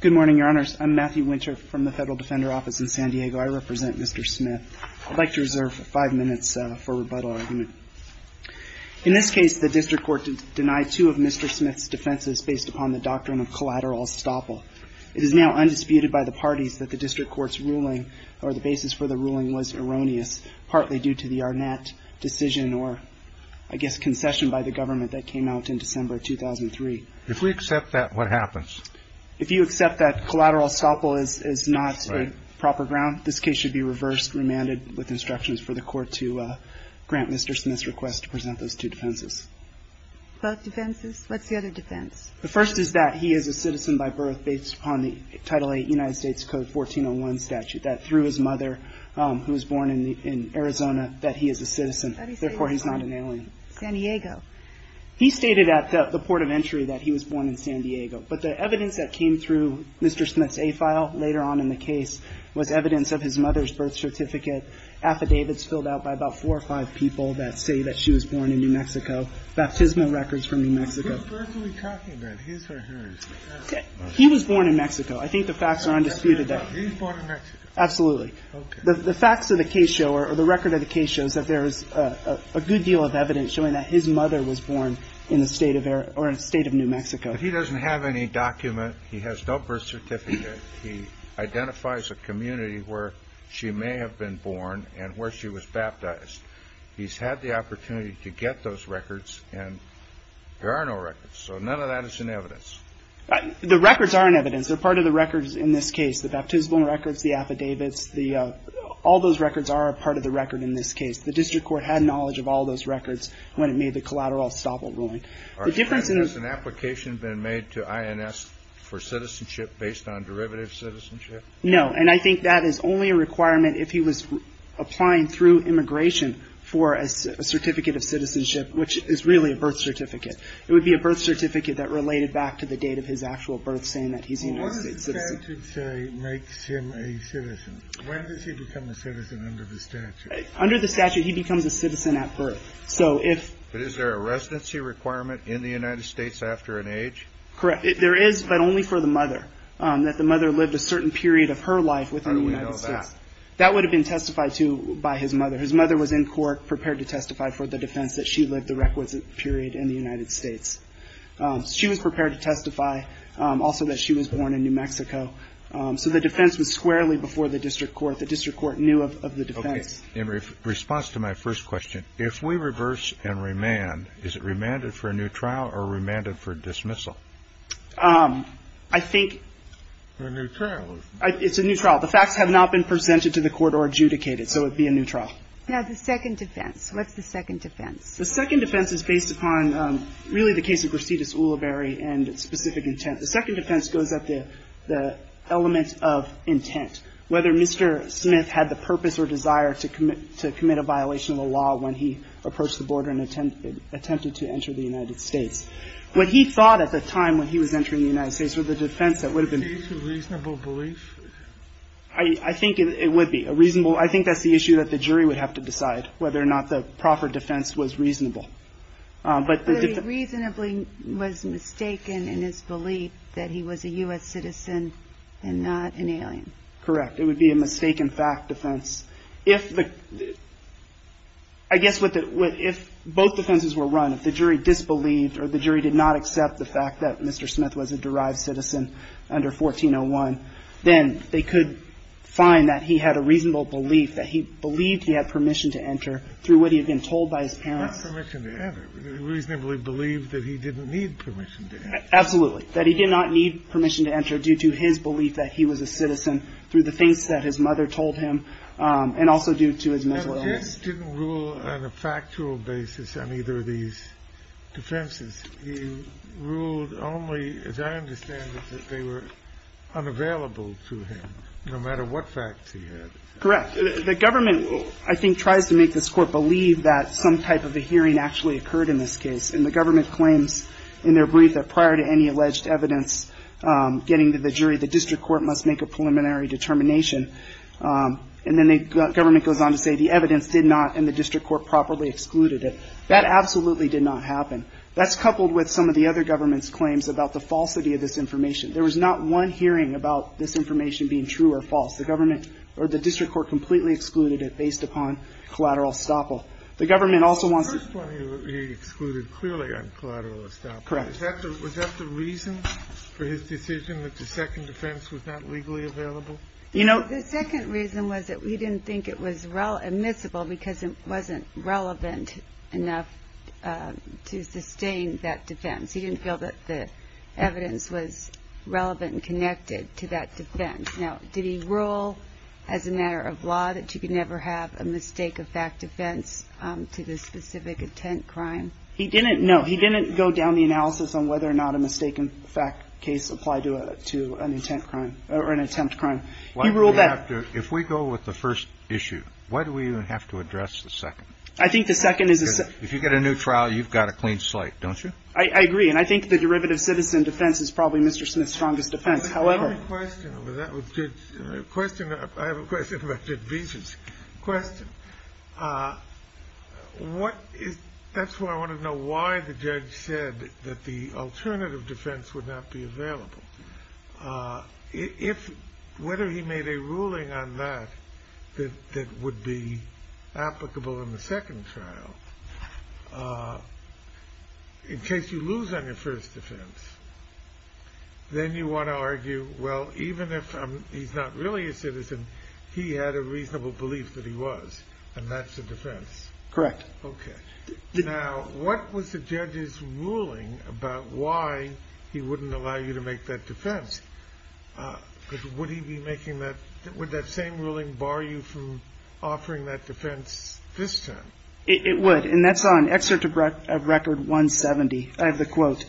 Good morning, your honors. I'm Matthew Winter from the Federal Defender Office in San Diego. I represent Mr. Smith. I'd like to reserve five minutes for rebuttal argument. In this case, the district court denied two of Mr. Smith's defenses based upon the doctrine of collateral estoppel. It is now undisputed by the parties that the district court's ruling or the basis for the ruling was erroneous, partly due to the Arnett decision or, I guess, concession by the government that came out in December 2003. If we accept that, what happens? If you accept that collateral estoppel is not a proper ground, this case should be reversed, remanded, with instructions for the court to grant Mr. Smith's request to present those two defenses. Both defenses? What's the other defense? The first is that he is a citizen by birth based upon the Title VIII United States Code 1401 statute, that through his mother, who was born in Arizona, that he is a citizen, therefore he's not an alien. San Diego. He stated at the port of entry that he was born in San Diego. But the evidence that came through Mr. Smith's A file later on in the case was evidence of his mother's birth certificate, affidavits filled out by about four or five people that say that she was born in New Mexico, baptismal records from New Mexico. Whose birth are we talking about? His or hers? He was born in Mexico. I think the facts are undisputed. He was born in Mexico? Absolutely. Okay. The facts of the case show or the record of the case shows that there is a good deal of evidence showing that his mother was born in the state of New Mexico. If he doesn't have any document, he has no birth certificate, he identifies a community where she may have been born and where she was baptized, he's had the opportunity to get those records, and there are no records. So none of that is in evidence. The records are in evidence. They're part of the records in this case, the baptismal records, the affidavits. All those records are a part of the record in this case. The district court had knowledge of all those records when it made the collateral estoppel ruling. The difference in the ---- Has an application been made to INS for citizenship based on derivative citizenship? No. And I think that is only a requirement if he was applying through immigration for a certificate of citizenship, which is really a birth certificate. It would be a birth certificate that related back to the date of his actual birth, saying that he's a United States citizen. What does the statute say makes him a citizen? When does he become a citizen under the statute? Under the statute, he becomes a citizen at birth. So if ---- But is there a residency requirement in the United States after an age? Correct. There is, but only for the mother, that the mother lived a certain period of her life within the United States. How do we know that? That would have been testified to by his mother. His mother was in court prepared to testify for the defense that she lived the requisite period in the United States. She was prepared to testify also that she was born in New Mexico. So the defense was squarely before the district court. The district court knew of the defense. Okay. In response to my first question, if we reverse and remand, is it remanded for a new trial or remanded for dismissal? I think ---- For a new trial. It's a new trial. The facts have not been presented to the court or adjudicated. So it would be a new trial. Now, the second defense. What's the second defense? The second defense is based upon really the case of Gracetus Ulibarri and specific intent. The second defense goes at the element of intent. Whether Mr. Smith had the purpose or desire to commit a violation of the law when he approached the border and attempted to enter the United States. What he thought at the time when he was entering the United States was the defense that would have been ---- Is this a reasonable belief? I think it would be a reasonable ---- I think that's the issue that the jury would have to decide, whether or not the proper defense was reasonable. But the ---- But he reasonably was mistaken in his belief that he was a U.S. citizen and not an alien. Correct. It would be a mistaken fact defense. If the ---- I guess what the ---- if both defenses were run, if the jury disbelieved or the jury did not accept the fact that Mr. Smith was a derived citizen under 1401, then they could find that he had a reasonable belief that he believed he had permission to enter through what he had been told by his parents. Not permission to enter. Reasonably believed that he didn't need permission to enter. Absolutely. That he did not need permission to enter due to his belief that he was a citizen through the things that his mother told him and also due to his mental illness. But his didn't rule on a factual basis on either of these defenses. He ruled only, as I understand it, that they were unavailable to him, no matter what facts he had. Correct. The government, I think, tries to make this Court believe that some type of a hearing actually occurred in this case. And the government claims in their brief that prior to any alleged evidence getting to the jury, the district court must make a preliminary determination. And then the government goes on to say the evidence did not and the district court properly excluded it. That absolutely did not happen. That's coupled with some of the other government's claims about the falsity of this information. There was not one hearing about this information being true or false. The government or the district court completely excluded it based upon collateral estoppel. The government also wants to ---- The first one he excluded clearly on collateral estoppel. Correct. Was that the reason for his decision that the second defense was not legally available? The second reason was that he didn't think it was admissible because it wasn't relevant enough to sustain that defense. He didn't feel that the evidence was relevant and connected to that defense. Now, did he rule as a matter of law that you could never have a mistake-of-fact defense to the specific intent crime? He didn't. No, he didn't go down the analysis on whether or not a mistake-of-fact case applied to an intent crime or an attempt crime. He ruled that ---- If we go with the first issue, why do we even have to address the second? I think the second is ---- Because if you get a new trial, you've got a clean slate, don't you? I agree. And I think the derivative citizen defense is probably Mr. Smith's strongest defense. However ---- I have a question. I have a question about Judge Beasley's question. That's why I want to know why the judge said that the alternative defense would not be available. Whether he made a ruling on that that would be applicable in the second trial, in case you lose on your first defense, then you want to argue, well, even if he's not really a citizen, he had a reasonable belief that he was, and that's a defense. Correct. Okay. Now, what was the judge's ruling about why he wouldn't allow you to make that defense? Because would he be making that ---- Would that same ruling bar you from offering that defense this time? It would. And that's on Excerpt of Record 170. I have the quote.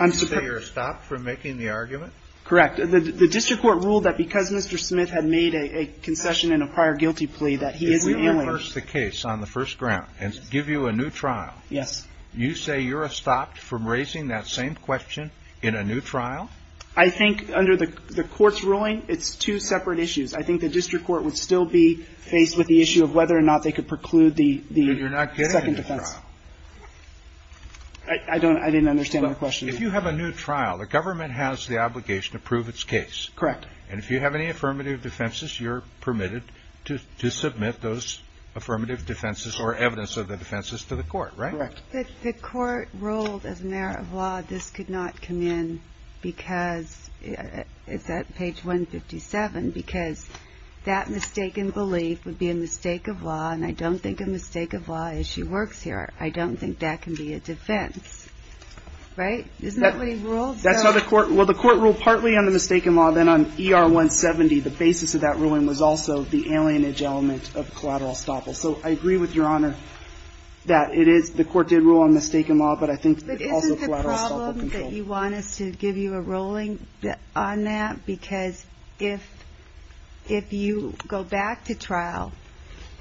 You say you're stopped from making the argument? Correct. The district court ruled that because Mr. Smith had made a concession in a prior guilty plea that he is an alien. If we reverse the case on the first ground and give you a new trial, you say you're stopped from raising that same question in a new trial? I think under the court's ruling, it's two separate issues. I think the district court would still be faced with the issue of whether or not they could preclude the second defense. But you're not getting a new trial. I didn't understand the question. If you have a new trial, the government has the obligation to prove its case. Correct. And if you have any affirmative defenses, you're permitted to submit those affirmative defenses or evidence of the defenses to the court, right? Correct. The court ruled as a matter of law this could not come in because it's at page 157, because that mistaken belief would be a mistake of law, and I don't think a mistake of law issue works here. I don't think that can be a defense. Right? Isn't that what he ruled? Well, the court ruled partly on the mistaken law. Then on ER 170, the basis of that ruling was also the alienage element of collateral estoppel. So I agree with Your Honor that the court did rule on mistaken law, but I think also collateral estoppel control. Do you want us to give you a ruling on that? Because if you go back to trial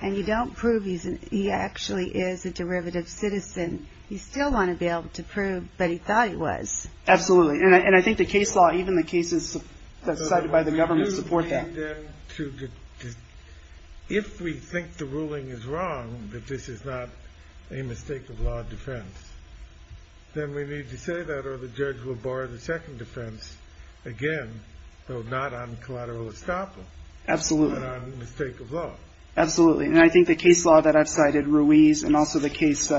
and you don't prove he actually is a derivative citizen, you still want to be able to prove that he thought he was. Absolutely. And I think the case law, even the cases cited by the government, support that. If we think the ruling is wrong, that this is not a mistake of law defense, then we need to say that or the judge will bar the second defense again, though not on collateral estoppel. Absolutely. But on mistake of law. Absolutely. And I think the case law that I've cited, Ruiz, and also the case,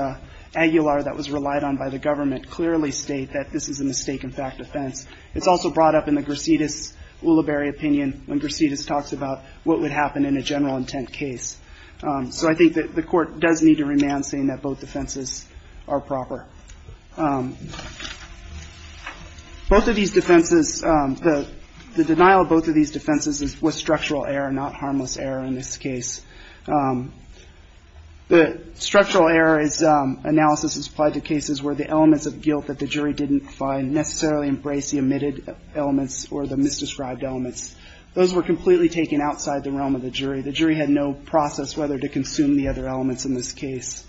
Aguilar, that was relied on by the government, clearly state that this is a mistake in fact defense. It's also brought up in the Gracetis-Ulibarri opinion when Gracetis talks about what would happen in a general intent case. So I think that the court does need to remand saying that both defenses are proper. Both of these defenses, the denial of both of these defenses was structural error, not harmless error in this case. The structural error analysis is applied to cases where the elements of guilt that the jury didn't find necessarily embraced the omitted elements or the misdescribed elements. Those were completely taken outside the realm of the jury. The jury had no process whether to consume the other elements in this case.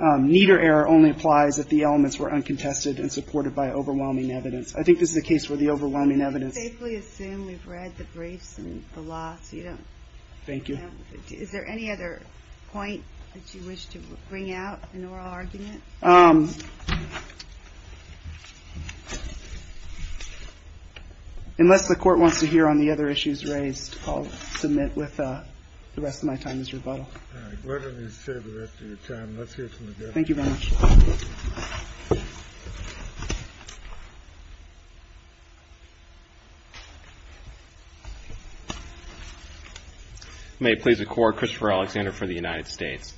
Neither error only applies if the elements were uncontested and supported by overwhelming evidence. I think this is a case where the overwhelming evidence. We assume we've read the briefs and the law, so you don't. Thank you. Is there any other point that you wish to bring out in oral argument? Unless the court wants to hear on the other issues raised, I'll submit with the rest of my time is rebuttal. All right, why don't you say the rest of your time. Let's hear from the judge. Thank you very much. May it please the court. Christopher Alexander for the United States.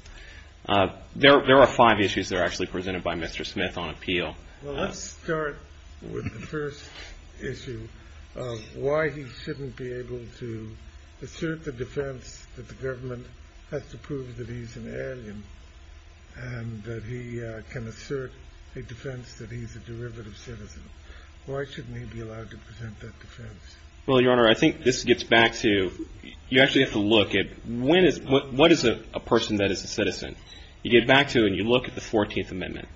There are five issues that are actually presented by Mr. Smith on appeal. Well, let's start with the first issue of why he shouldn't be able to assert the defense that the government has to prove that he's an alien and that he can assert a defense that he's a derivative citizen. Why shouldn't he be allowed to present that defense? Well, Your Honor, I think this gets back to you actually have to look at what is a person that is a citizen. You get back to and you look at the 14th Amendment.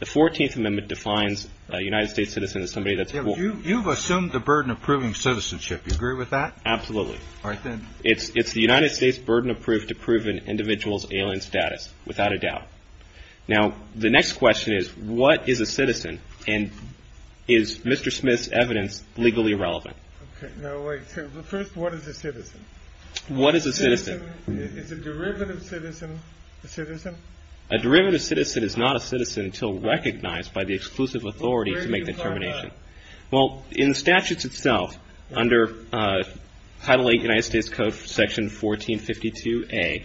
The 14th Amendment defines a United States citizen as somebody that's. You've assumed the burden of proving citizenship. You agree with that? Absolutely. I think it's the United States burden of proof to prove an individual's alien status without a doubt. Now, the next question is, what is a citizen? And is Mr. Smith's evidence legally relevant? No. First, what is a citizen? What is a citizen? Is a derivative citizen a citizen? A derivative citizen is not a citizen until recognized by the exclusive authority to make the determination. Well, in the statutes itself, under Title VIII United States Code Section 1452A,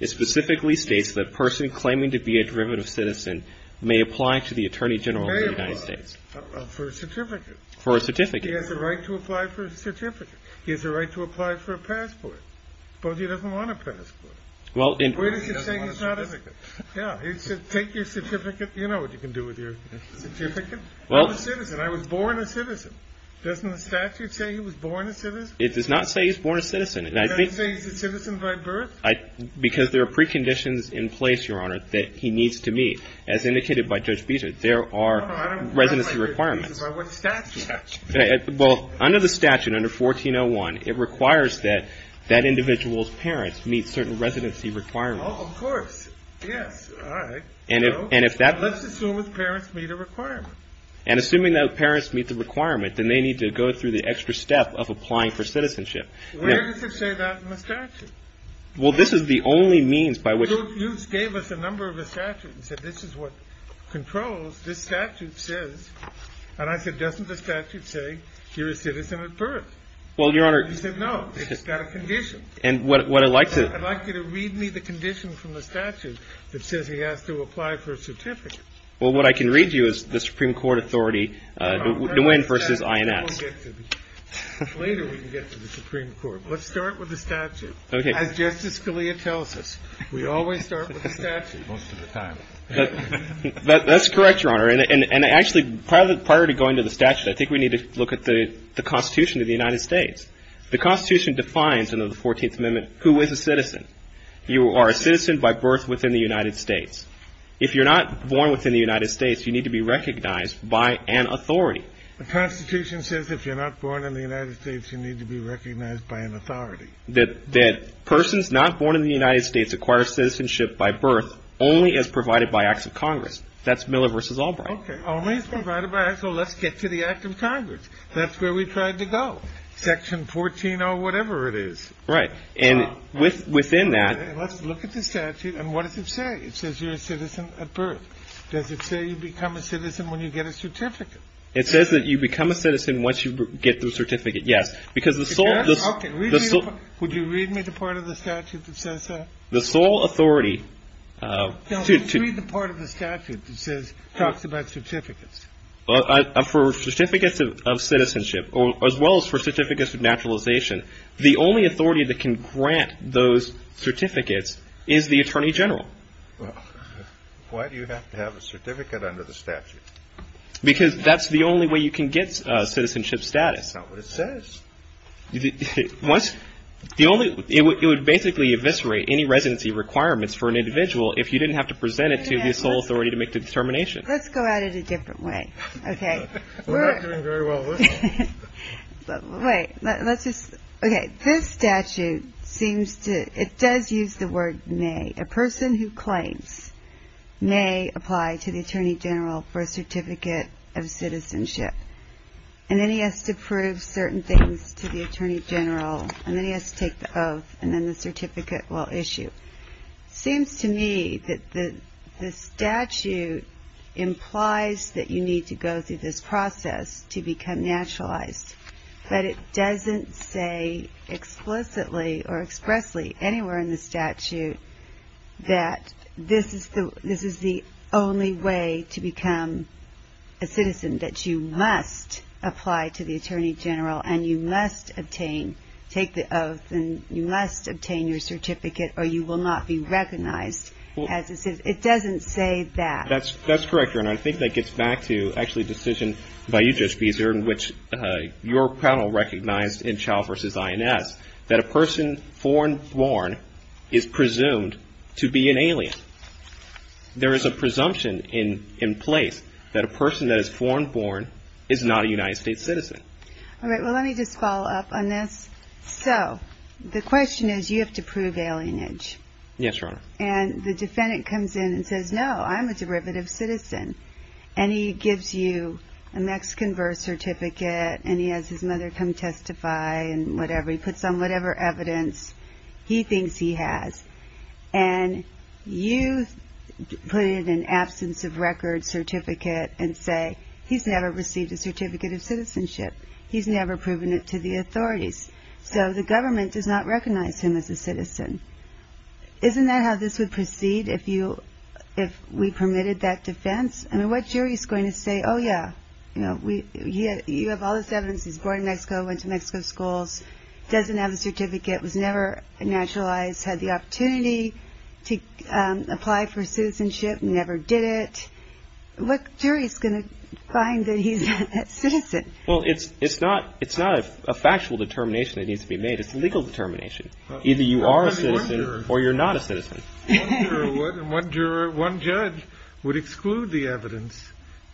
it specifically states that a person claiming to be a derivative citizen may apply to the Attorney General of the United States. For a certificate. For a certificate. He has a right to apply for a certificate. He has a right to apply for a passport. Suppose he doesn't want a passport. Or he doesn't want a certificate. Yeah. Take your certificate. You know what you can do with your certificate. I'm a citizen. I was born a citizen. Doesn't the statute say he was born a citizen? It does not say he was born a citizen. It doesn't say he's a citizen by birth? Because there are preconditions in place, Your Honor, that he needs to meet. No, no, I don't know. That's what the statute says. Well, under the statute, under 1401, it requires that that individual's parents meet certain residency requirements. Oh, of course. Yes. All right. So let's assume his parents meet a requirement. And assuming that parents meet the requirement, then they need to go through the extra step of applying for citizenship. Where does it say that in the statute? Well, this is the only means by which. You gave us a number of the statutes and said this is what controls. This statute says. And I said, doesn't the statute say he was a citizen at birth? Well, Your Honor. He said no. It's got a condition. And what I'd like to. I'd like you to read me the condition from the statute that says he has to apply for a certificate. Well, what I can read you is the Supreme Court authority, Nguyen v. INS. Later we can get to the Supreme Court. Let's start with the statute. Okay. As Justice Scalia tells us, we always start with the statute. Most of the time. That's correct, Your Honor. And actually, prior to going to the statute, I think we need to look at the Constitution of the United States. The Constitution defines under the Fourteenth Amendment who is a citizen. You are a citizen by birth within the United States. If you're not born within the United States, you need to be recognized by an authority. The Constitution says if you're not born in the United States, you need to be recognized by an authority. That persons not born in the United States acquire citizenship by birth only as provided by acts of Congress. That's Miller v. Albright. Okay. Only as provided by acts of Congress. Let's get to the act of Congress. That's where we tried to go. Section 14 or whatever it is. Right. And within that. Let's look at the statute. And what does it say? It says you're a citizen at birth. Does it say you become a citizen when you get a certificate? It says that you become a citizen once you get the certificate, yes. Because the sole authority. Would you read me the part of the statute that says that? The sole authority. No, read the part of the statute that says talks about certificates. For certificates of citizenship, as well as for certificates of naturalization, the only authority that can grant those certificates is the Attorney General. Why do you have to have a certificate under the statute? Because that's the only way you can get citizenship status. That's not what it says. It would basically eviscerate any residency requirements for an individual if you didn't have to present it to the sole authority to make the determination. Let's go at it a different way. Okay. We're not doing very well with it. Wait. Let's just. Okay. This statute seems to. It does use the word may. A person who claims may apply to the Attorney General for a certificate of citizenship. And then he has to prove certain things to the Attorney General. And then he has to take the oath. And then the certificate will issue. It seems to me that the statute implies that you need to go through this process to become naturalized. But it doesn't say explicitly or expressly anywhere in the statute that this is the only way to become a citizen, that you must apply to the Attorney General and you must obtain. Take the oath and you must obtain your certificate or you will not be recognized as a citizen. It doesn't say that. That's correct. And I think that gets back to actually a decision by you, Judge Beeser, in which your panel recognized in Child v. INS that a person foreign born is presumed to be an alien. There is a presumption in place that a person that is foreign born is not a United States citizen. All right. Well, let me just follow up on this. So the question is you have to prove alienage. Yes, Your Honor. And the defendant comes in and says, no, I'm a derivative citizen. And he gives you a Mexican birth certificate and he has his mother come testify and whatever. He puts on whatever evidence he thinks he has. And you put in an absence of record certificate and say he's never received a certificate of citizenship. He's never proven it to the authorities. So the government does not recognize him as a citizen. Isn't that how this would proceed if we permitted that defense? I mean, what jury is going to say, oh, yeah, you have all this evidence. He's born in Mexico, went to Mexico schools, doesn't have a certificate, was never naturalized, had the opportunity to apply for citizenship, never did it. What jury is going to find that he's a citizen? Well, it's not a factual determination that needs to be made. It's a legal determination. Either you are a citizen or you're not a citizen. One juror, one judge would exclude the evidence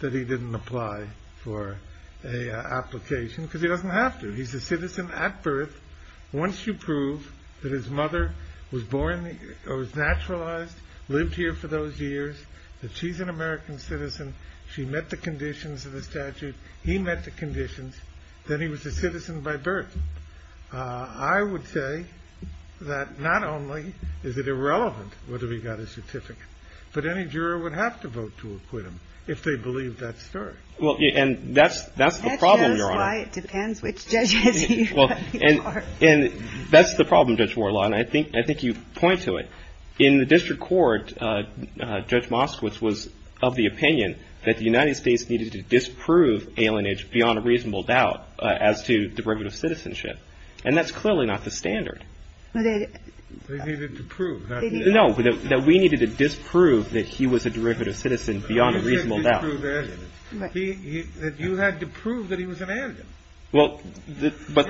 that he didn't apply for an application because he doesn't have to. He's a citizen at birth. Once you prove that his mother was born or was naturalized, lived here for those years, that she's an American citizen, she met the conditions of the statute, he met the conditions, then he was a citizen by birth. I would say that not only is it irrelevant whether he got a certificate, but any juror would have to vote to acquit him if they believe that story. Well, and that's the problem, Judge Warlaw, and I think you point to it. In the district court, Judge Moskowitz was of the opinion that the United States needed to disprove alienage beyond a reasonable doubt as to derivative citizenship, and that's clearly not the standard. No, that we needed to disprove that he was a derivative citizen beyond a reasonable doubt. You had to prove that he was an alien. Well, but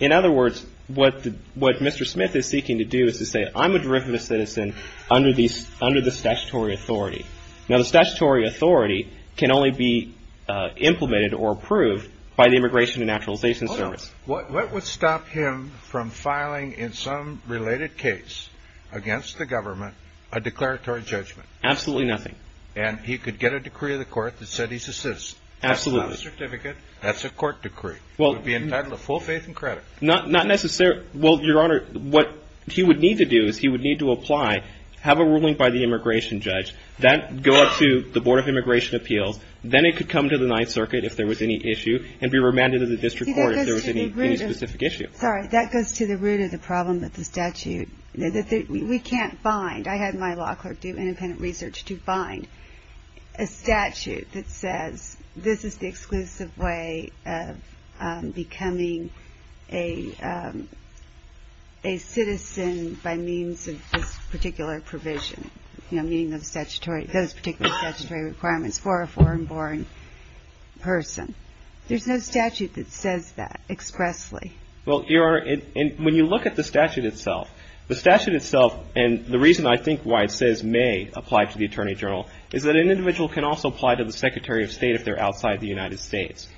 in other words, what Mr. Smith is seeking to do is to say, I'm a derivative citizen under the statutory authority. Now, the statutory authority can only be implemented or approved by the Immigration and Naturalization Service. What would stop him from filing in some related case against the government a declaratory judgment? Absolutely nothing. And he could get a decree of the court that said he's a citizen. That's not a certificate. That's a court decree. It would be entitled to full faith and credit. Not necessarily. Well, Your Honor, what he would need to do is he would need to apply, have a ruling by the immigration judge, then go up to the Board of Immigration Appeals, then it could come to the Ninth Circuit if there was any issue, and be remanded to the district court if there was any specific issue. Sorry, that goes to the root of the problem with the statute. We can't bind. I had my law clerk do independent research to bind a statute that says, this is the exclusive way of becoming a citizen by means of this particular provision, meaning those particular statutory requirements for a foreign-born person. There's no statute that says that expressly. Well, Your Honor, when you look at the statute itself, the statute itself and the reason I think why it says may apply to the attorney general is that an individual can also apply to the Secretary of State if they're outside the United States.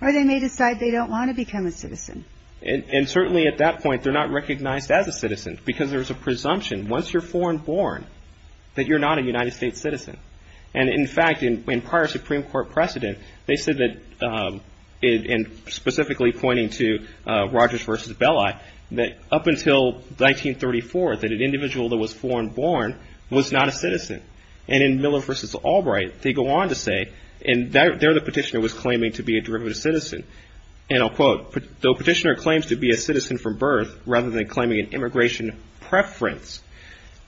Or they may decide they don't want to become a citizen. And certainly at that point, they're not recognized as a citizen because there's a presumption once you're foreign-born that you're not a United States citizen. And in fact, in prior Supreme Court precedent, they said that, and specifically pointing to Rogers v. Belli, that up until 1934 that an individual that was foreign-born was not a citizen. And in Miller v. Albright, they go on to say, and there the petitioner was claiming to be a derivative citizen, and I'll quote, the petitioner claims to be a citizen from birth rather than claiming an immigration preference.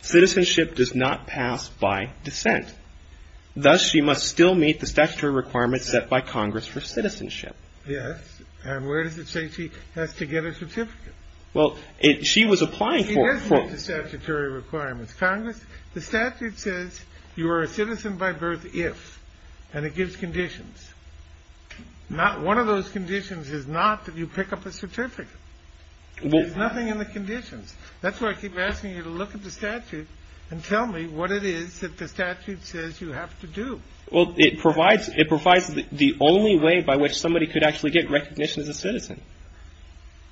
Citizenship does not pass by dissent. Thus, she must still meet the statutory requirements set by Congress for citizenship. Yes, and where does it say she has to get a certificate? Well, she was applying for it. She does meet the statutory requirements. Congress, the statute says you are a citizen by birth if, and it gives conditions. Not one of those conditions is not that you pick up a certificate. There's nothing in the conditions. That's why I keep asking you to look at the statute and tell me what it is that the statute says you have to do. Well, it provides the only way by which somebody could actually get recognition as a citizen.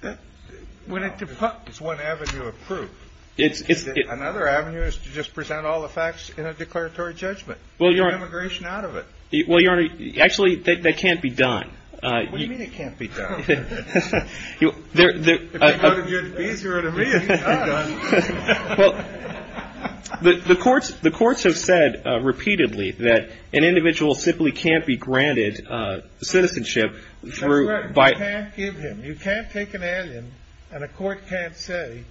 It's one avenue of proof. Another avenue is to just present all the facts in a declaratory judgment. Well, Your Honor. Get immigration out of it. Well, Your Honor, actually, that can't be done. What do you mean it can't be done? Well, the courts have said repeatedly that an individual simply can't be granted citizenship. That's right. You can't give him. You can't take an alien and a court can't say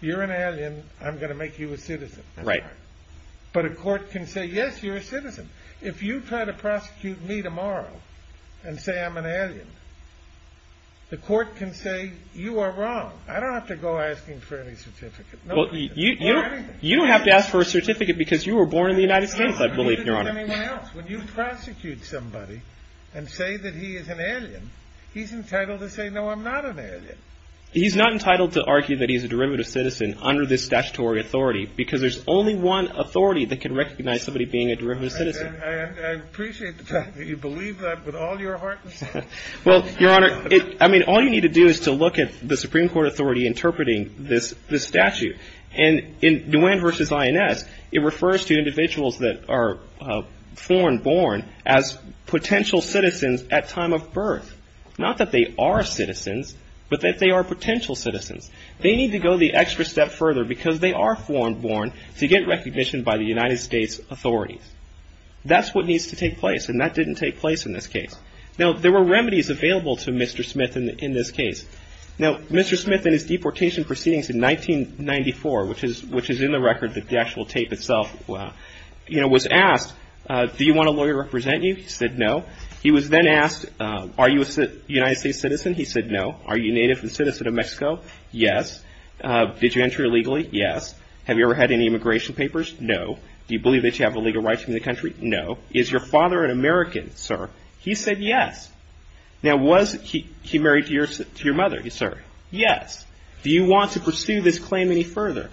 you're an alien. I'm going to make you a citizen. Right. But a court can say, yes, you're a citizen. If you try to prosecute me tomorrow and say I'm an alien, the court can say you are wrong. I don't have to go asking for any certificate. You don't have to ask for a certificate because you were born in the United States, I believe, Your Honor. When you prosecute somebody and say that he is an alien, he's entitled to say, no, I'm not an alien. He's not entitled to argue that he's a derivative citizen under this statutory authority because there's only one authority that can recognize somebody being a derivative citizen. I appreciate the fact that you believe that with all your heart. Well, Your Honor, I mean, all you need to do is to look at the Supreme Court authority interpreting this statute. And in Nguyen v. INS, it refers to individuals that are foreign born as potential citizens at time of birth. Not that they are citizens, but that they are potential citizens. They need to go the extra step further because they are foreign born to get recognition by the United States authorities. That's what needs to take place. And that didn't take place in this case. Now, there were remedies available to Mr. Smith in this case. Now, Mr. Smith, in his deportation proceedings in 1994, which is in the record, the actual tape itself, was asked, do you want a lawyer to represent you? He said no. He was then asked, are you a United States citizen? He said no. Are you a native and citizen of Mexico? Yes. Did you enter illegally? Yes. Have you ever had any immigration papers? No. Do you believe that you have illegal rights in the country? No. Is your father an American, sir? He said yes. Now, was he married to your mother, sir? Yes. Do you want to pursue this claim any further?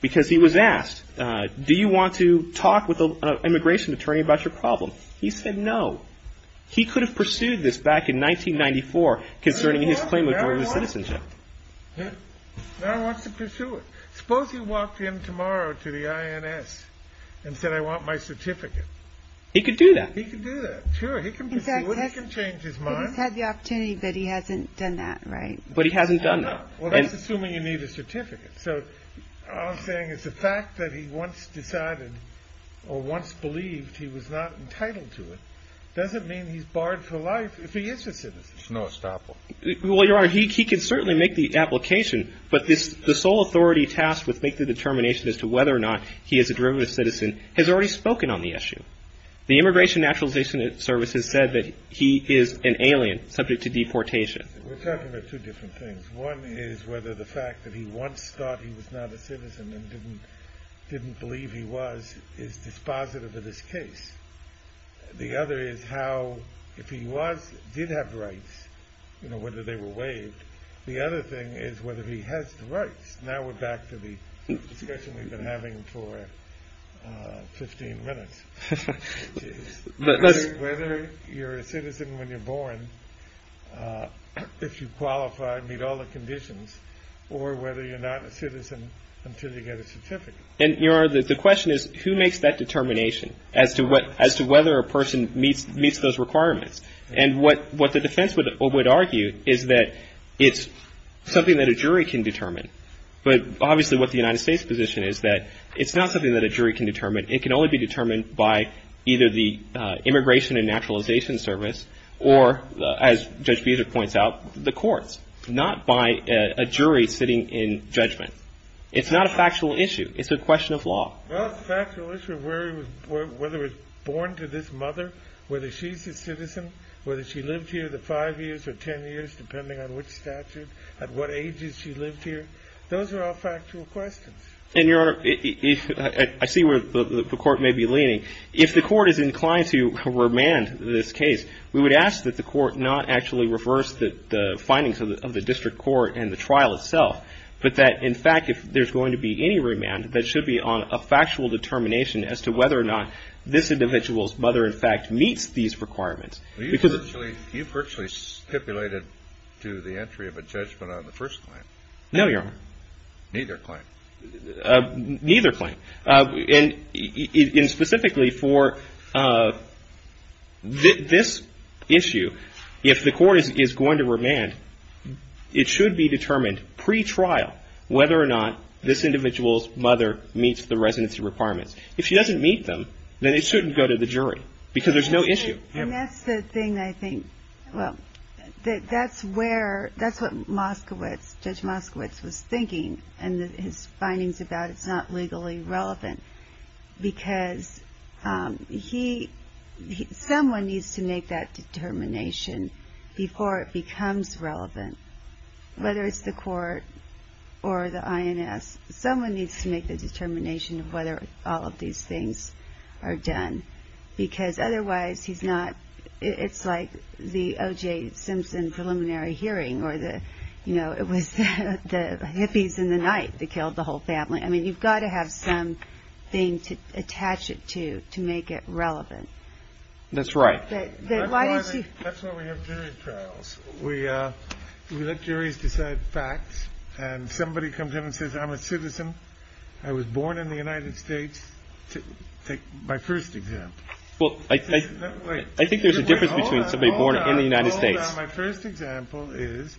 Because he was asked, do you want to talk with an immigration attorney about your problem? He said no. He could have pursued this back in 1994 concerning his claim of Georgia citizenship. Now he wants to pursue it. Suppose he walked in tomorrow to the INS and said, I want my certificate. He could do that. He could do that. Sure, he can pursue it. He can change his mind. He's had the opportunity, but he hasn't done that, right? But he hasn't done that. Well, that's assuming you need a certificate. So all I'm saying is the fact that he once decided or once believed he was not entitled to it doesn't mean he's barred for life if he is a citizen. There's no estoppel. Well, Your Honor, he can certainly make the application, but the sole authority tasked with making the determination as to whether or not he is a derivative citizen has already spoken on the issue. The Immigration Naturalization Service has said that he is an alien subject to deportation. We're talking about two different things. One is whether the fact that he once thought he was not a citizen and didn't believe he was is dispositive of this case. The other is how if he did have rights, whether they were waived. The other thing is whether he has the rights. Now we're back to the discussion we've been having for 15 minutes. Whether you're a citizen when you're born, if you qualify, meet all the conditions, or whether you're not a citizen until you get a certificate. And, Your Honor, the question is who makes that determination as to whether a person meets those requirements. And what the defense would argue is that it's something that a jury can determine. But obviously what the United States position is that it's not something that a jury can determine. It can only be determined by either the Immigration and Naturalization Service or, as Judge Beazer points out, the courts. Not by a jury sitting in judgment. It's not a factual issue. It's a question of law. Well, it's a factual issue of whether he was born to this mother, whether she's a citizen, whether she lived here the five years or ten years depending on which statute, at what ages she lived here. Those are all factual questions. And, Your Honor, I see where the Court may be leaning. If the Court is inclined to remand this case, we would ask that the Court not actually reverse the findings of the district court and the trial itself, but that, in fact, if there's going to be any remand, that it should be on a factual determination as to whether or not this individual's mother, in fact, meets these requirements. You virtually stipulated to the entry of a judgment on the first claim. No, Your Honor. Neither claim. Neither claim. And specifically for this issue, if the Court is going to remand, it should be determined pretrial whether or not this individual's mother meets the residency requirements. If she doesn't meet them, then it shouldn't go to the jury because there's no issue. And that's the thing, I think. Well, that's where – that's what Moskowitz, Judge Moskowitz, was thinking, and his findings about it's not legally relevant because he – whether it's the Court or the INS, someone needs to make the determination of whether all of these things are done because otherwise he's not – it's like the O.J. Simpson preliminary hearing or the – you know, it was the hippies in the night that killed the whole family. I mean, you've got to have something to attach it to to make it relevant. That's right. That's why we have jury trials. We let juries decide facts, and somebody comes in and says, I'm a citizen, I was born in the United States. Take my first example. Well, I think there's a difference between somebody born in the United States – Hold on. My first example is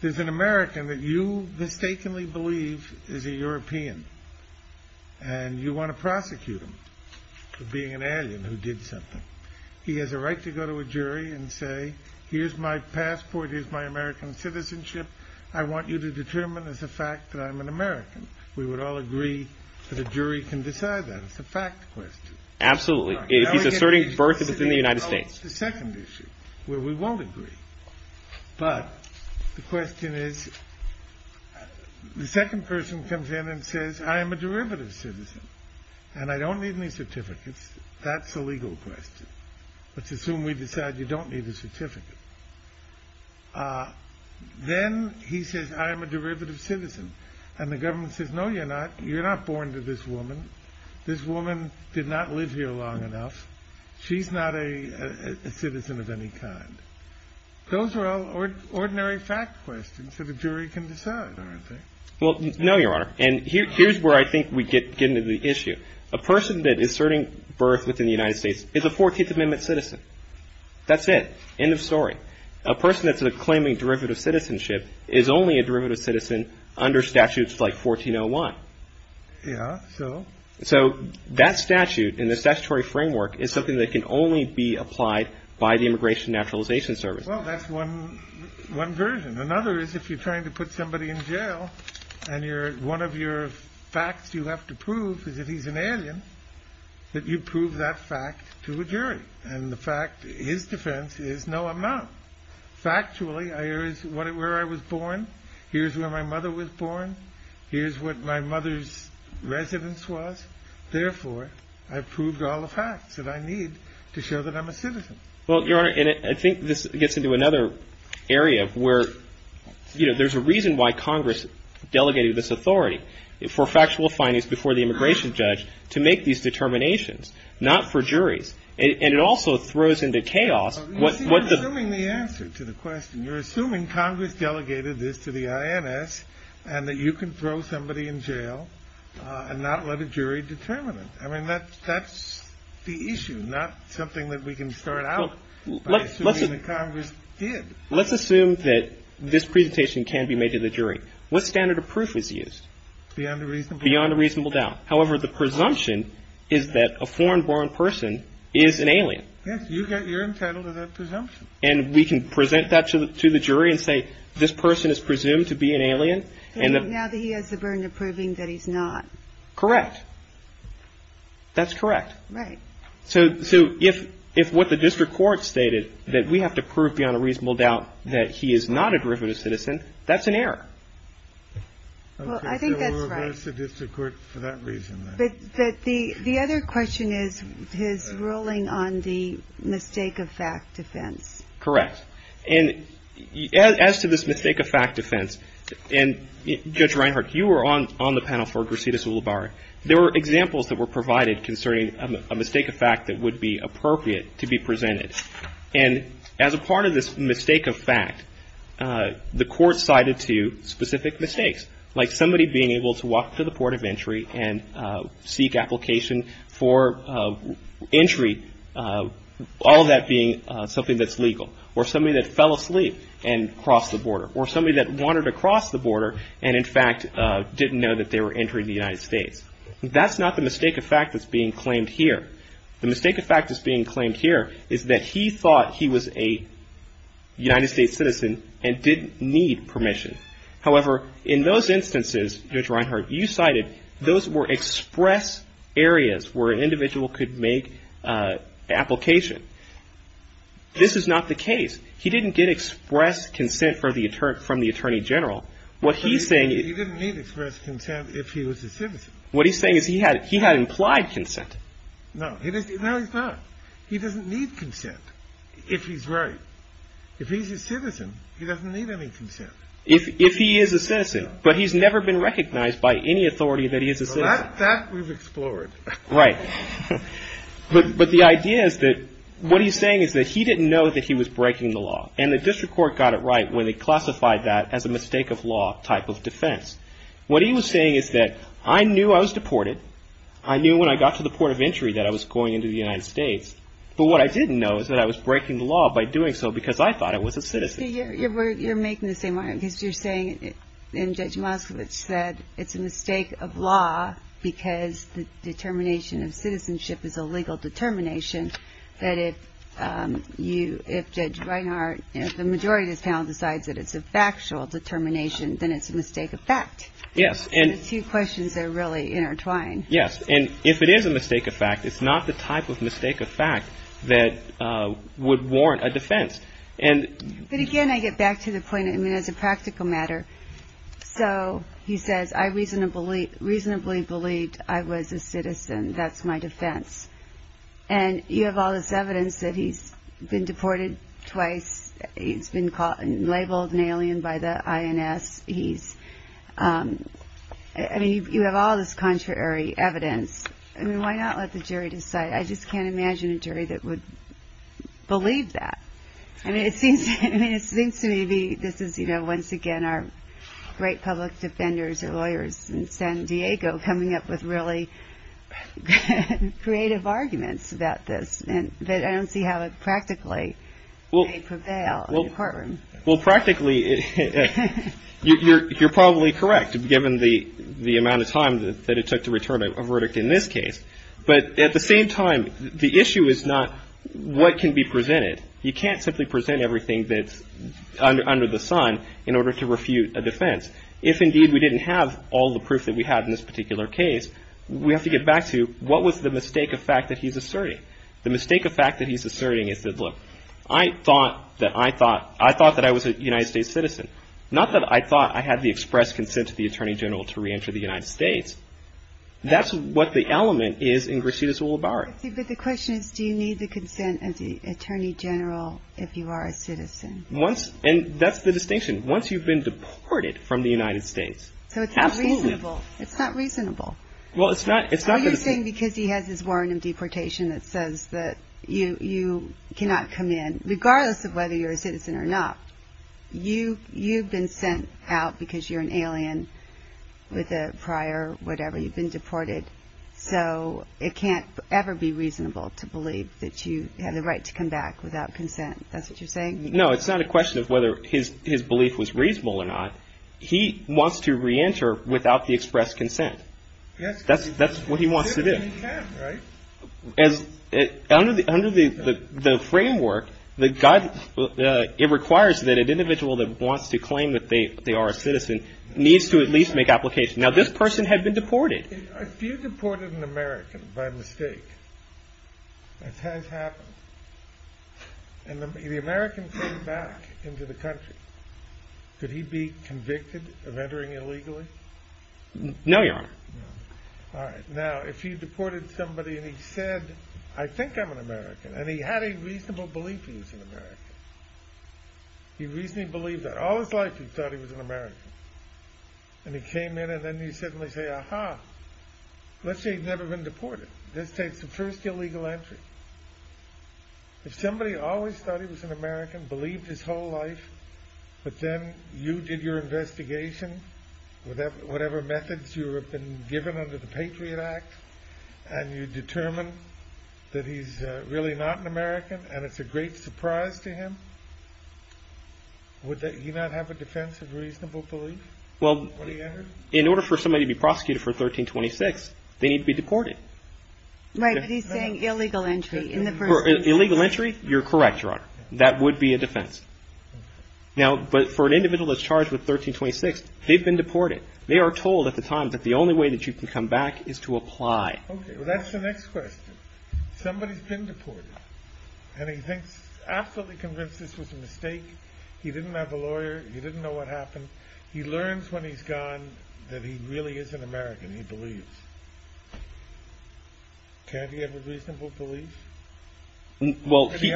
there's an American that you mistakenly believe is a European, and you want to prosecute him for being an alien who did something. He has a right to go to a jury and say, here's my passport. Here's my American citizenship. I want you to determine as a fact that I'm an American. We would all agree that a jury can decide that. It's a fact question. Absolutely. If he's asserting birth, it's in the United States. Well, it's the second issue where we won't agree, but the question is the second person comes in and says, I am a derivative citizen, and I don't need any certificates. That's a legal question. Let's assume we decide you don't need a certificate. Then he says, I am a derivative citizen, and the government says, no, you're not. You're not born to this woman. This woman did not live here long enough. She's not a citizen of any kind. Those are all ordinary fact questions that a jury can decide, aren't they? Well, no, Your Honor, and here's where I think we get into the issue. A person that is asserting birth within the United States is a 14th Amendment citizen. That's it. End of story. A person that's claiming derivative citizenship is only a derivative citizen under statutes like 1401. Yeah, so? So that statute in the statutory framework is something that can only be applied by the Immigration and Naturalization Service. Well, that's one version. Another is if you're trying to put somebody in jail, and one of your facts you have to prove is that he's an alien, that you prove that fact to a jury. And the fact, his defense, is no amount. Factually, here's where I was born. Here's where my mother was born. Here's what my mother's residence was. Therefore, I've proved all the facts that I need to show that I'm a citizen. Well, Your Honor, and I think this gets into another area where, you know, there's a reason why Congress delegated this authority for factual findings before the immigration judge to make these determinations, not for juries. And it also throws into chaos what the… You're assuming the answer to the question. You're assuming Congress delegated this to the INS and that you can throw somebody in jail and not let a jury determine it. I mean, that's the issue, not something that we can start out by assuming that Congress did. Let's assume that this presentation can be made to the jury. What standard of proof is used? Beyond a reasonable doubt. Beyond a reasonable doubt. However, the presumption is that a foreign-born person is an alien. Yes. You're entitled to that presumption. And we can present that to the jury and say, this person is presumed to be an alien. Now that he has the burden of proving that he's not. Correct. That's correct. Right. So if what the district court stated, that we have to prove beyond a reasonable doubt that he is not a derivative citizen, that's an error. Well, I think that's right. So we'll reverse the district court for that reason. But the other question is his ruling on the mistake of fact defense. Correct. And as to this mistake of fact defense, and Judge Reinhart, you were on the panel for Gracitas Ulubarri. There were examples that were provided concerning a mistake of fact that would be appropriate to be presented. And as a part of this mistake of fact, the court cited two specific mistakes, like somebody being able to walk to the port of entry and seek application for entry, all that being something that's legal, or somebody that fell asleep and crossed the border, or somebody that wanted to cross the border and, in fact, didn't know that they were entering the United States. That's not the mistake of fact that's being claimed here. The mistake of fact that's being claimed here is that he thought he was a United States citizen and didn't need permission. However, in those instances, Judge Reinhart, you cited, those were express areas where an individual could make application. This is not the case. He didn't get express consent from the attorney general. What he's saying is he had implied consent. No, he doesn't need consent if he's right. If he's a citizen, he doesn't need any consent. If he is a citizen, but he's never been recognized by any authority that he is a citizen. That we've explored. Right. But the idea is that what he's saying is that he didn't know that he was breaking the law. And the district court got it right when they classified that as a mistake of law type of defense. What he was saying is that I knew I was deported. I knew when I got to the port of entry that I was going into the United States. But what I didn't know is that I was breaking the law by doing so because I thought I was a citizen. You're making the same argument because you're saying, and Judge Moskowitz said, it's a mistake of law because the determination of citizenship is a legal determination, that if Judge Reinhart, if the majority of this panel decides that it's a factual determination, then it's a mistake of fact. Yes. And the two questions are really intertwined. Yes. And if it is a mistake of fact, it's not the type of mistake of fact that would warrant a defense. But again, I get back to the point, I mean, as a practical matter. So he says, I reasonably believed I was a citizen. That's my defense. And you have all this evidence that he's been deported twice. He's been labeled an alien by the INS. He's, I mean, you have all this contrary evidence. I mean, why not let the jury decide? I just can't imagine a jury that would believe that. I mean, it seems to me this is, you know, once again, our great public defenders and lawyers in San Diego coming up with really creative arguments about this. But I don't see how it practically may prevail in the courtroom. Well, practically, you're probably correct, given the amount of time that it took to return a verdict in this case. But at the same time, the issue is not what can be presented. You can't simply present everything that's under the sun in order to refute a defense. If, indeed, we didn't have all the proof that we had in this particular case, we have to get back to what was the mistake of fact that he's asserting. The mistake of fact that he's asserting is that, look, I thought that I was a United States citizen. Not that I thought I had the express consent of the Attorney General to reenter the United States. That's what the element is in Grishida's rule of bar. But the question is, do you need the consent of the Attorney General if you are a citizen? Once, and that's the distinction, once you've been deported from the United States. So it's not reasonable. It's not reasonable. Well, it's not. It's not because he has his warrant of deportation that says that you cannot come in, regardless of whether you're a citizen or not. You've been sent out because you're an alien with a prior whatever. You've been deported. So it can't ever be reasonable to believe that you have the right to come back without consent. That's what you're saying? No, it's not a question of whether his belief was reasonable or not. He wants to reenter without the express consent. That's what he wants to do. Under the framework, it requires that an individual that wants to claim that they are a citizen needs to at least make application. Now, this person had been deported. If you deported an American by mistake, as has happened, and the American came back into the country, could he be convicted of entering illegally? No, Your Honor. No. All right. Now, if you deported somebody and he said, I think I'm an American, and he had a reasonable belief he was an American, he reasonably believed that all his life he thought he was an American, and he came in and then he suddenly said, Aha. Let's say he'd never been deported. This takes the first illegal entry. If somebody always thought he was an American, believed his whole life, but then you did your investigation, whatever methods you have been given under the Patriot Act, and you determine that he's really not an American and it's a great surprise to him, would he not have a defense of reasonable belief? Well, in order for somebody to be prosecuted for 1326, they need to be deported. Right. But he's saying illegal entry. Illegal entry, you're correct, Your Honor. That would be a defense. Now, but for an individual that's charged with 1326, they've been deported. They are told at the time that the only way that you can come back is to apply. Okay. Well, that's the next question. Somebody's been deported, and he thinks, absolutely convinced this was a mistake. He didn't have a lawyer. He didn't know what happened. He learns when he's gone that he really is an American. He believes. Can't he have a reasonable belief? Well, he may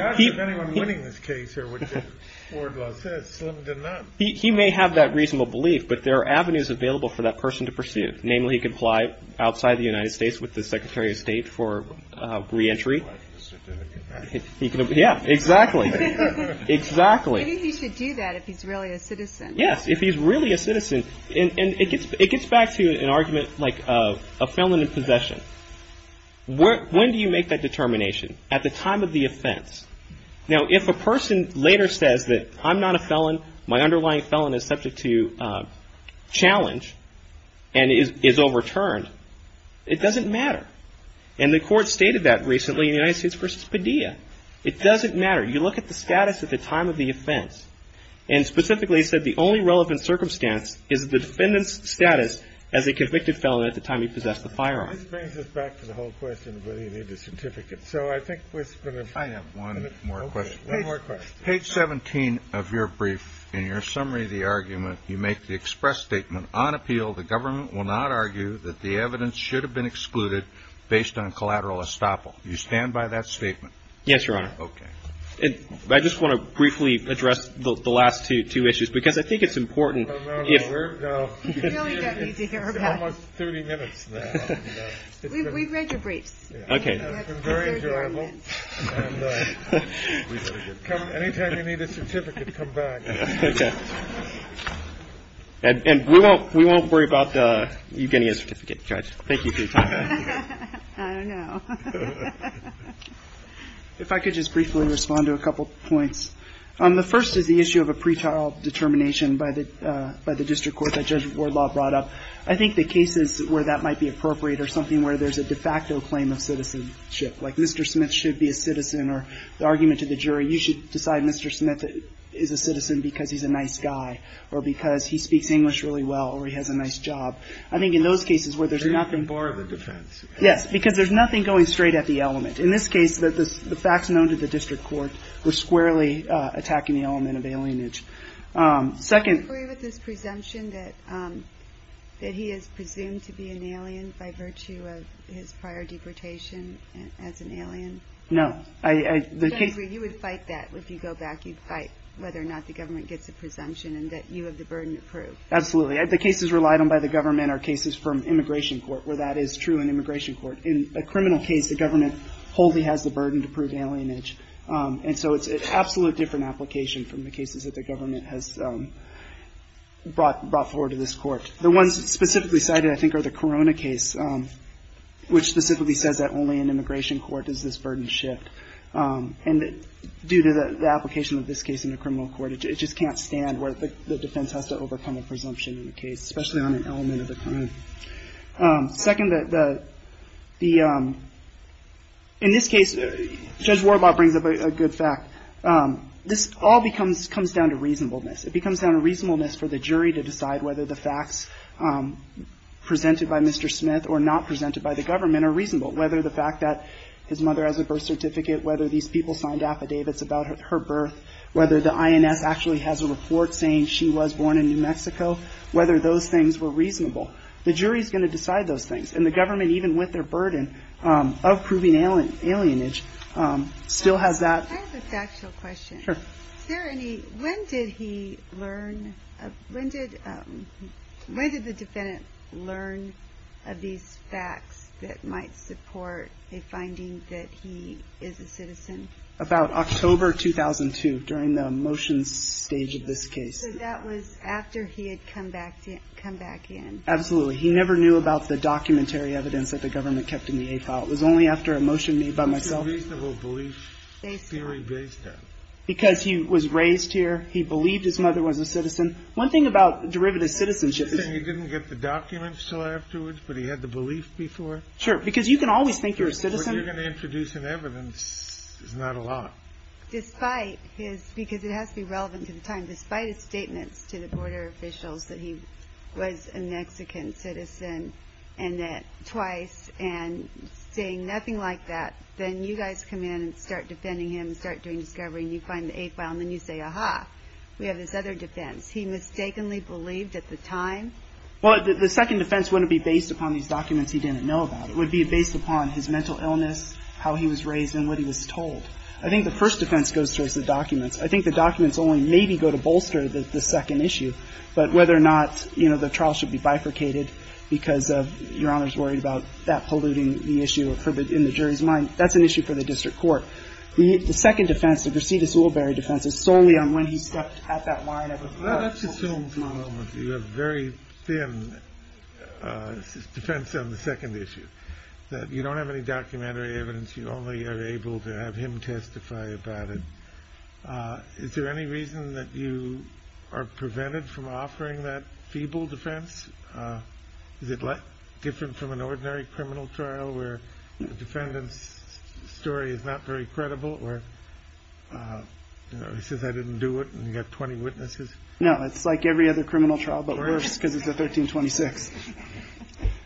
have that reasonable belief, but there are avenues available for that person to pursue. Namely, he could apply outside the United States with the Secretary of State for reentry. Yeah, exactly. Exactly. Maybe he should do that if he's really a citizen. Yes, if he's really a citizen. And it gets back to an argument like a felon in possession. When do you make that determination? At the time of the offense. Now, if a person later says that I'm not a felon, my underlying felon is subject to challenge and is overturned, it doesn't matter. And the court stated that recently in the United States v. Padilla. It doesn't matter. You look at the status at the time of the offense. And specifically, it said the only relevant circumstance is the defendant's status as a convicted felon at the time he possessed the firearm. This brings us back to the whole question of whether you need a certificate. So I think we're going to find out one more question. One more question. Page 17 of your brief, in your summary of the argument, you make the express statement, on appeal, the government will not argue that the evidence should have been excluded based on collateral estoppel. Do you stand by that statement? Yes, Your Honor. Okay. I just want to briefly address the last two issues because I think it's important. It's almost 30 minutes now. We've read your briefs. Okay. It's been very enjoyable. And anytime you need a certificate, come back. Okay. And we won't worry about you getting a certificate, Judge. Thank you for your time. I don't know. If I could just briefly respond to a couple points. The first is the issue of a pretrial determination by the district court that Judge Wardlaw brought up. I think the cases where that might be appropriate are something where there's a de facto claim of citizenship, like Mr. Smith should be a citizen or the argument to the jury, you should decide Mr. Smith is a citizen because he's a nice guy or because he speaks English really well or he has a nice job. I think in those cases where there's nothing going straight at the element. In this case, the facts known to the district court were squarely attacking the element of alienage. Do you agree with his presumption that he is presumed to be an alien by virtue of his prior deportation as an alien? No. You would fight that if you go back. You'd fight whether or not the government gets a presumption and that you have the burden to prove. Absolutely. The cases relied on by the government are cases from immigration court where that is true in immigration court. In a criminal case, the government wholly has the burden to prove alienage. And so it's an absolutely different application from the cases that the government has brought forward to this court. The ones specifically cited, I think, are the Corona case, which specifically says that only in immigration court does this burden shift. And due to the application of this case in the criminal court, it just can't stand where the defense has to overcome a presumption in the case, especially on an element of the crime. Second, the ‑‑ in this case, Judge Warbot brings up a good fact. This all comes down to reasonableness. It comes down to reasonableness for the jury to decide whether the facts presented by Mr. Smith or not presented by the government are reasonable, whether the fact that his mother has a birth certificate, whether these people signed affidavits about her birth, whether the INS actually has a report saying she was born in New Mexico, whether those things were reasonable. The jury is going to decide those things. And the government, even with their burden of proving alienage, still has that. I have a factual question. Sure. Is there any ‑‑ when did he learn ‑‑ when did the defendant learn of these facts that might support a finding that he is a citizen? About October 2002, during the motions stage of this case. So that was after he had come back in. Absolutely. He never knew about the documentary evidence that the government kept in the A file. It was only after a motion made by myself. What's the reasonable belief theory based on? Because he was raised here. He believed his mother was a citizen. One thing about derivative citizenship is ‑‑ You're saying he didn't get the documents until afterwards, but he had the belief before? Sure. Because you can always think you're a citizen. What you're going to introduce in evidence is not a lot. Despite his ‑‑ because it has to be relevant to the time. Despite his statements to the border officials that he was a Mexican citizen twice and saying nothing like that, then you guys come in and start defending him, start doing discovery, and you find the A file, and then you say, Aha, we have this other defense. He mistakenly believed at the time? Well, the second defense wouldn't be based upon these documents he didn't know about. It would be based upon his mental illness, how he was raised, and what he was told. I think the first defense goes towards the documents. I think the documents only maybe go to bolster the second issue. But whether or not, you know, the trial should be bifurcated because of Your Honor's worry about that polluting the issue in the jury's mind, that's an issue for the district court. The second defense, the Mercedes Woolbury defense, is solely on when he stepped at that line of authority. Let's assume for a moment you have very thin defense on the second issue, that you don't have any documentary evidence. You only are able to have him testify about it. Is there any reason that you are prevented from offering that feeble defense? Is it different from an ordinary criminal trial where the defendant's story is not very credible, or he says, I didn't do it, and you have 20 witnesses? No, it's like every other criminal trial, but worse because it's a 1326.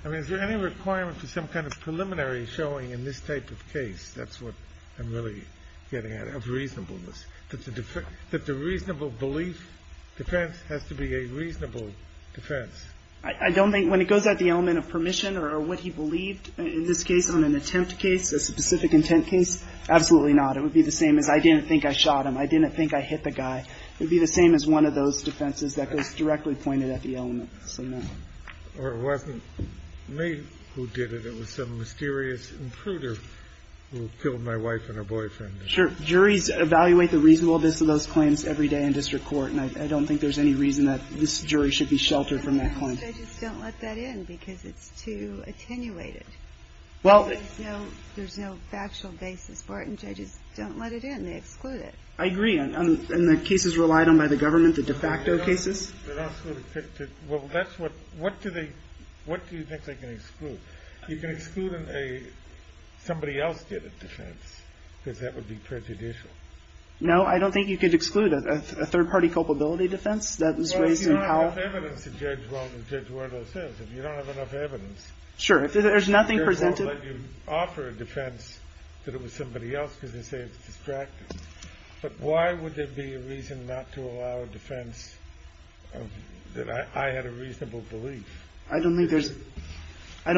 I mean, is there any requirement for some kind of preliminary showing in this type of case? That's what I'm really getting at, of reasonableness. That the reasonable belief defense has to be a reasonable defense. I don't think, when it goes at the element of permission or what he believed in this case on an attempt case, a specific intent case, absolutely not. It would be the same as, I didn't think I shot him. I didn't think I hit the guy. It would be the same as one of those defenses that goes directly pointed at the element. Or it wasn't me who did it. It was some mysterious intruder who killed my wife and her boyfriend. Sure. Juries evaluate the reasonableness of those claims every day in district court, and I don't think there's any reason that this jury should be sheltered from that claim. Judges don't let that in because it's too attenuated. There's no factual basis for it, and judges don't let it in. They exclude it. I agree. And the cases relied on by the government, the de facto cases? Well, what do you think they can exclude? You can exclude somebody else did a defense, because that would be prejudicial. No, I don't think you could exclude a third-party culpability defense. Well, if you don't have enough evidence to judge well, then judge where it all says. If you don't have enough evidence, if the judge won't let you offer a defense that it was somebody else because they say it's distracting, but why would there be a reason not to allow a defense that I had a reasonable belief? I don't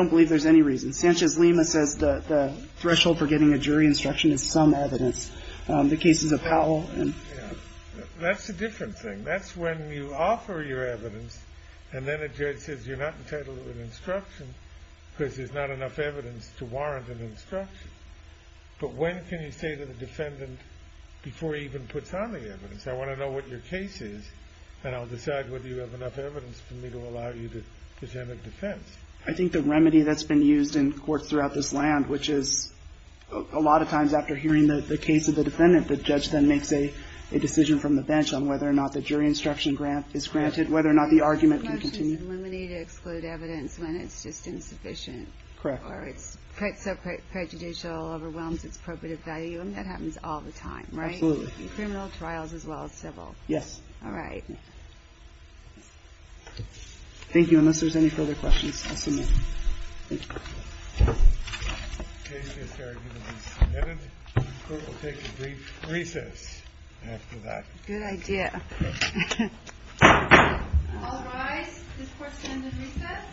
believe there's any reason. Sanchez-Lima says the threshold for getting a jury instruction is some evidence. The cases of Powell. That's a different thing. That's when you offer your evidence, and then a judge says you're not entitled to an instruction because there's not enough evidence to warrant an instruction. But when can you say to the defendant before he even puts on the evidence, I want to know what your case is, and I'll decide whether you have enough evidence for me to allow you to present a defense. I think the remedy that's been used in courts throughout this land, which is a lot of times after hearing the case of the defendant, the judge then makes a decision from the bench on whether or not the jury instruction is granted, whether or not the argument can continue. It's illuminating to exclude evidence when it's just insufficient. Correct. Or it's so prejudicial, overwhelms its probative value. That happens all the time, right? Absolutely. In criminal trials as well as civil. Yes. All right. Thank you. Unless there's any further questions, I'll submit. Thank you. The case is here to be submitted. The court will take a brief recess after that. Good idea. All rise. This court is going to recess.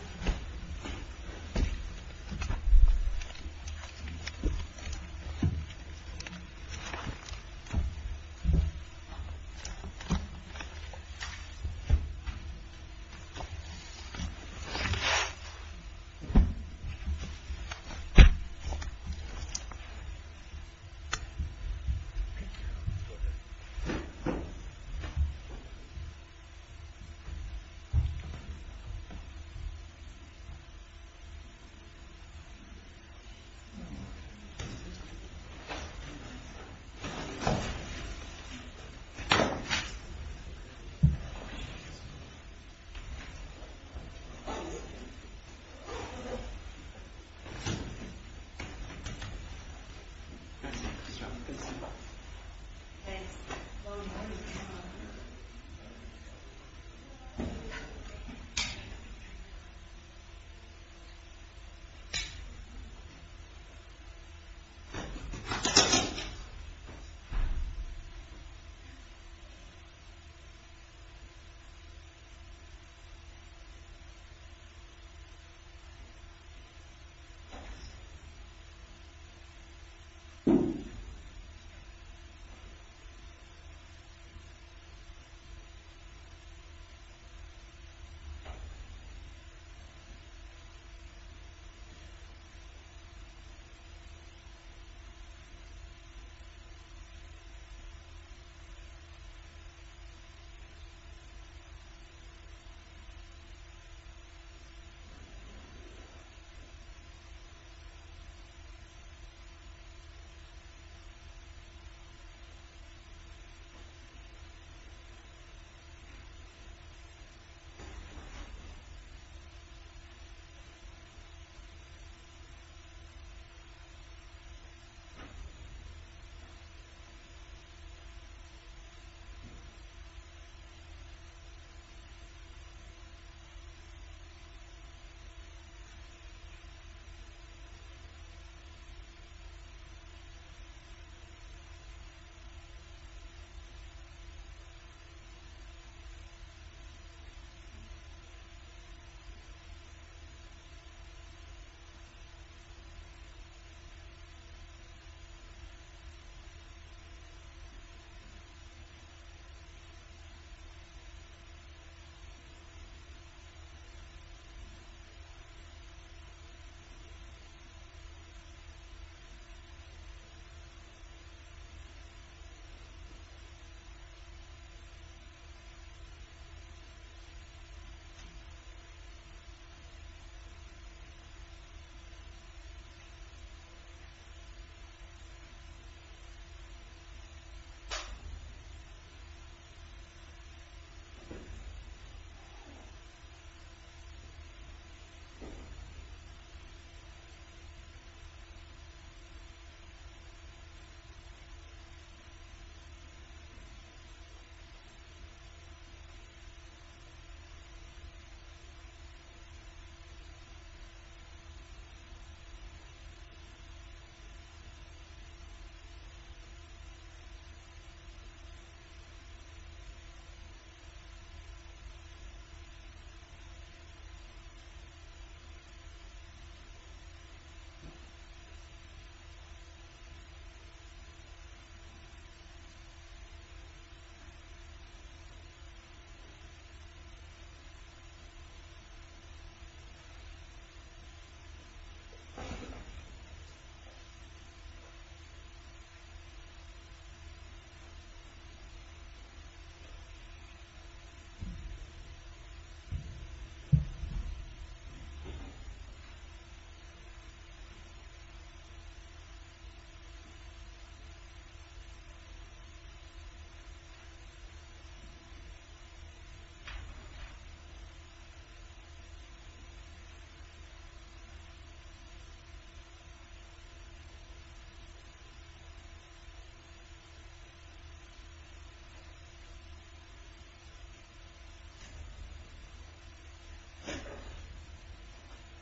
Thank you. Thank you. Thank you. Thank you. Thank you. Thank you. Thank you. Thank you.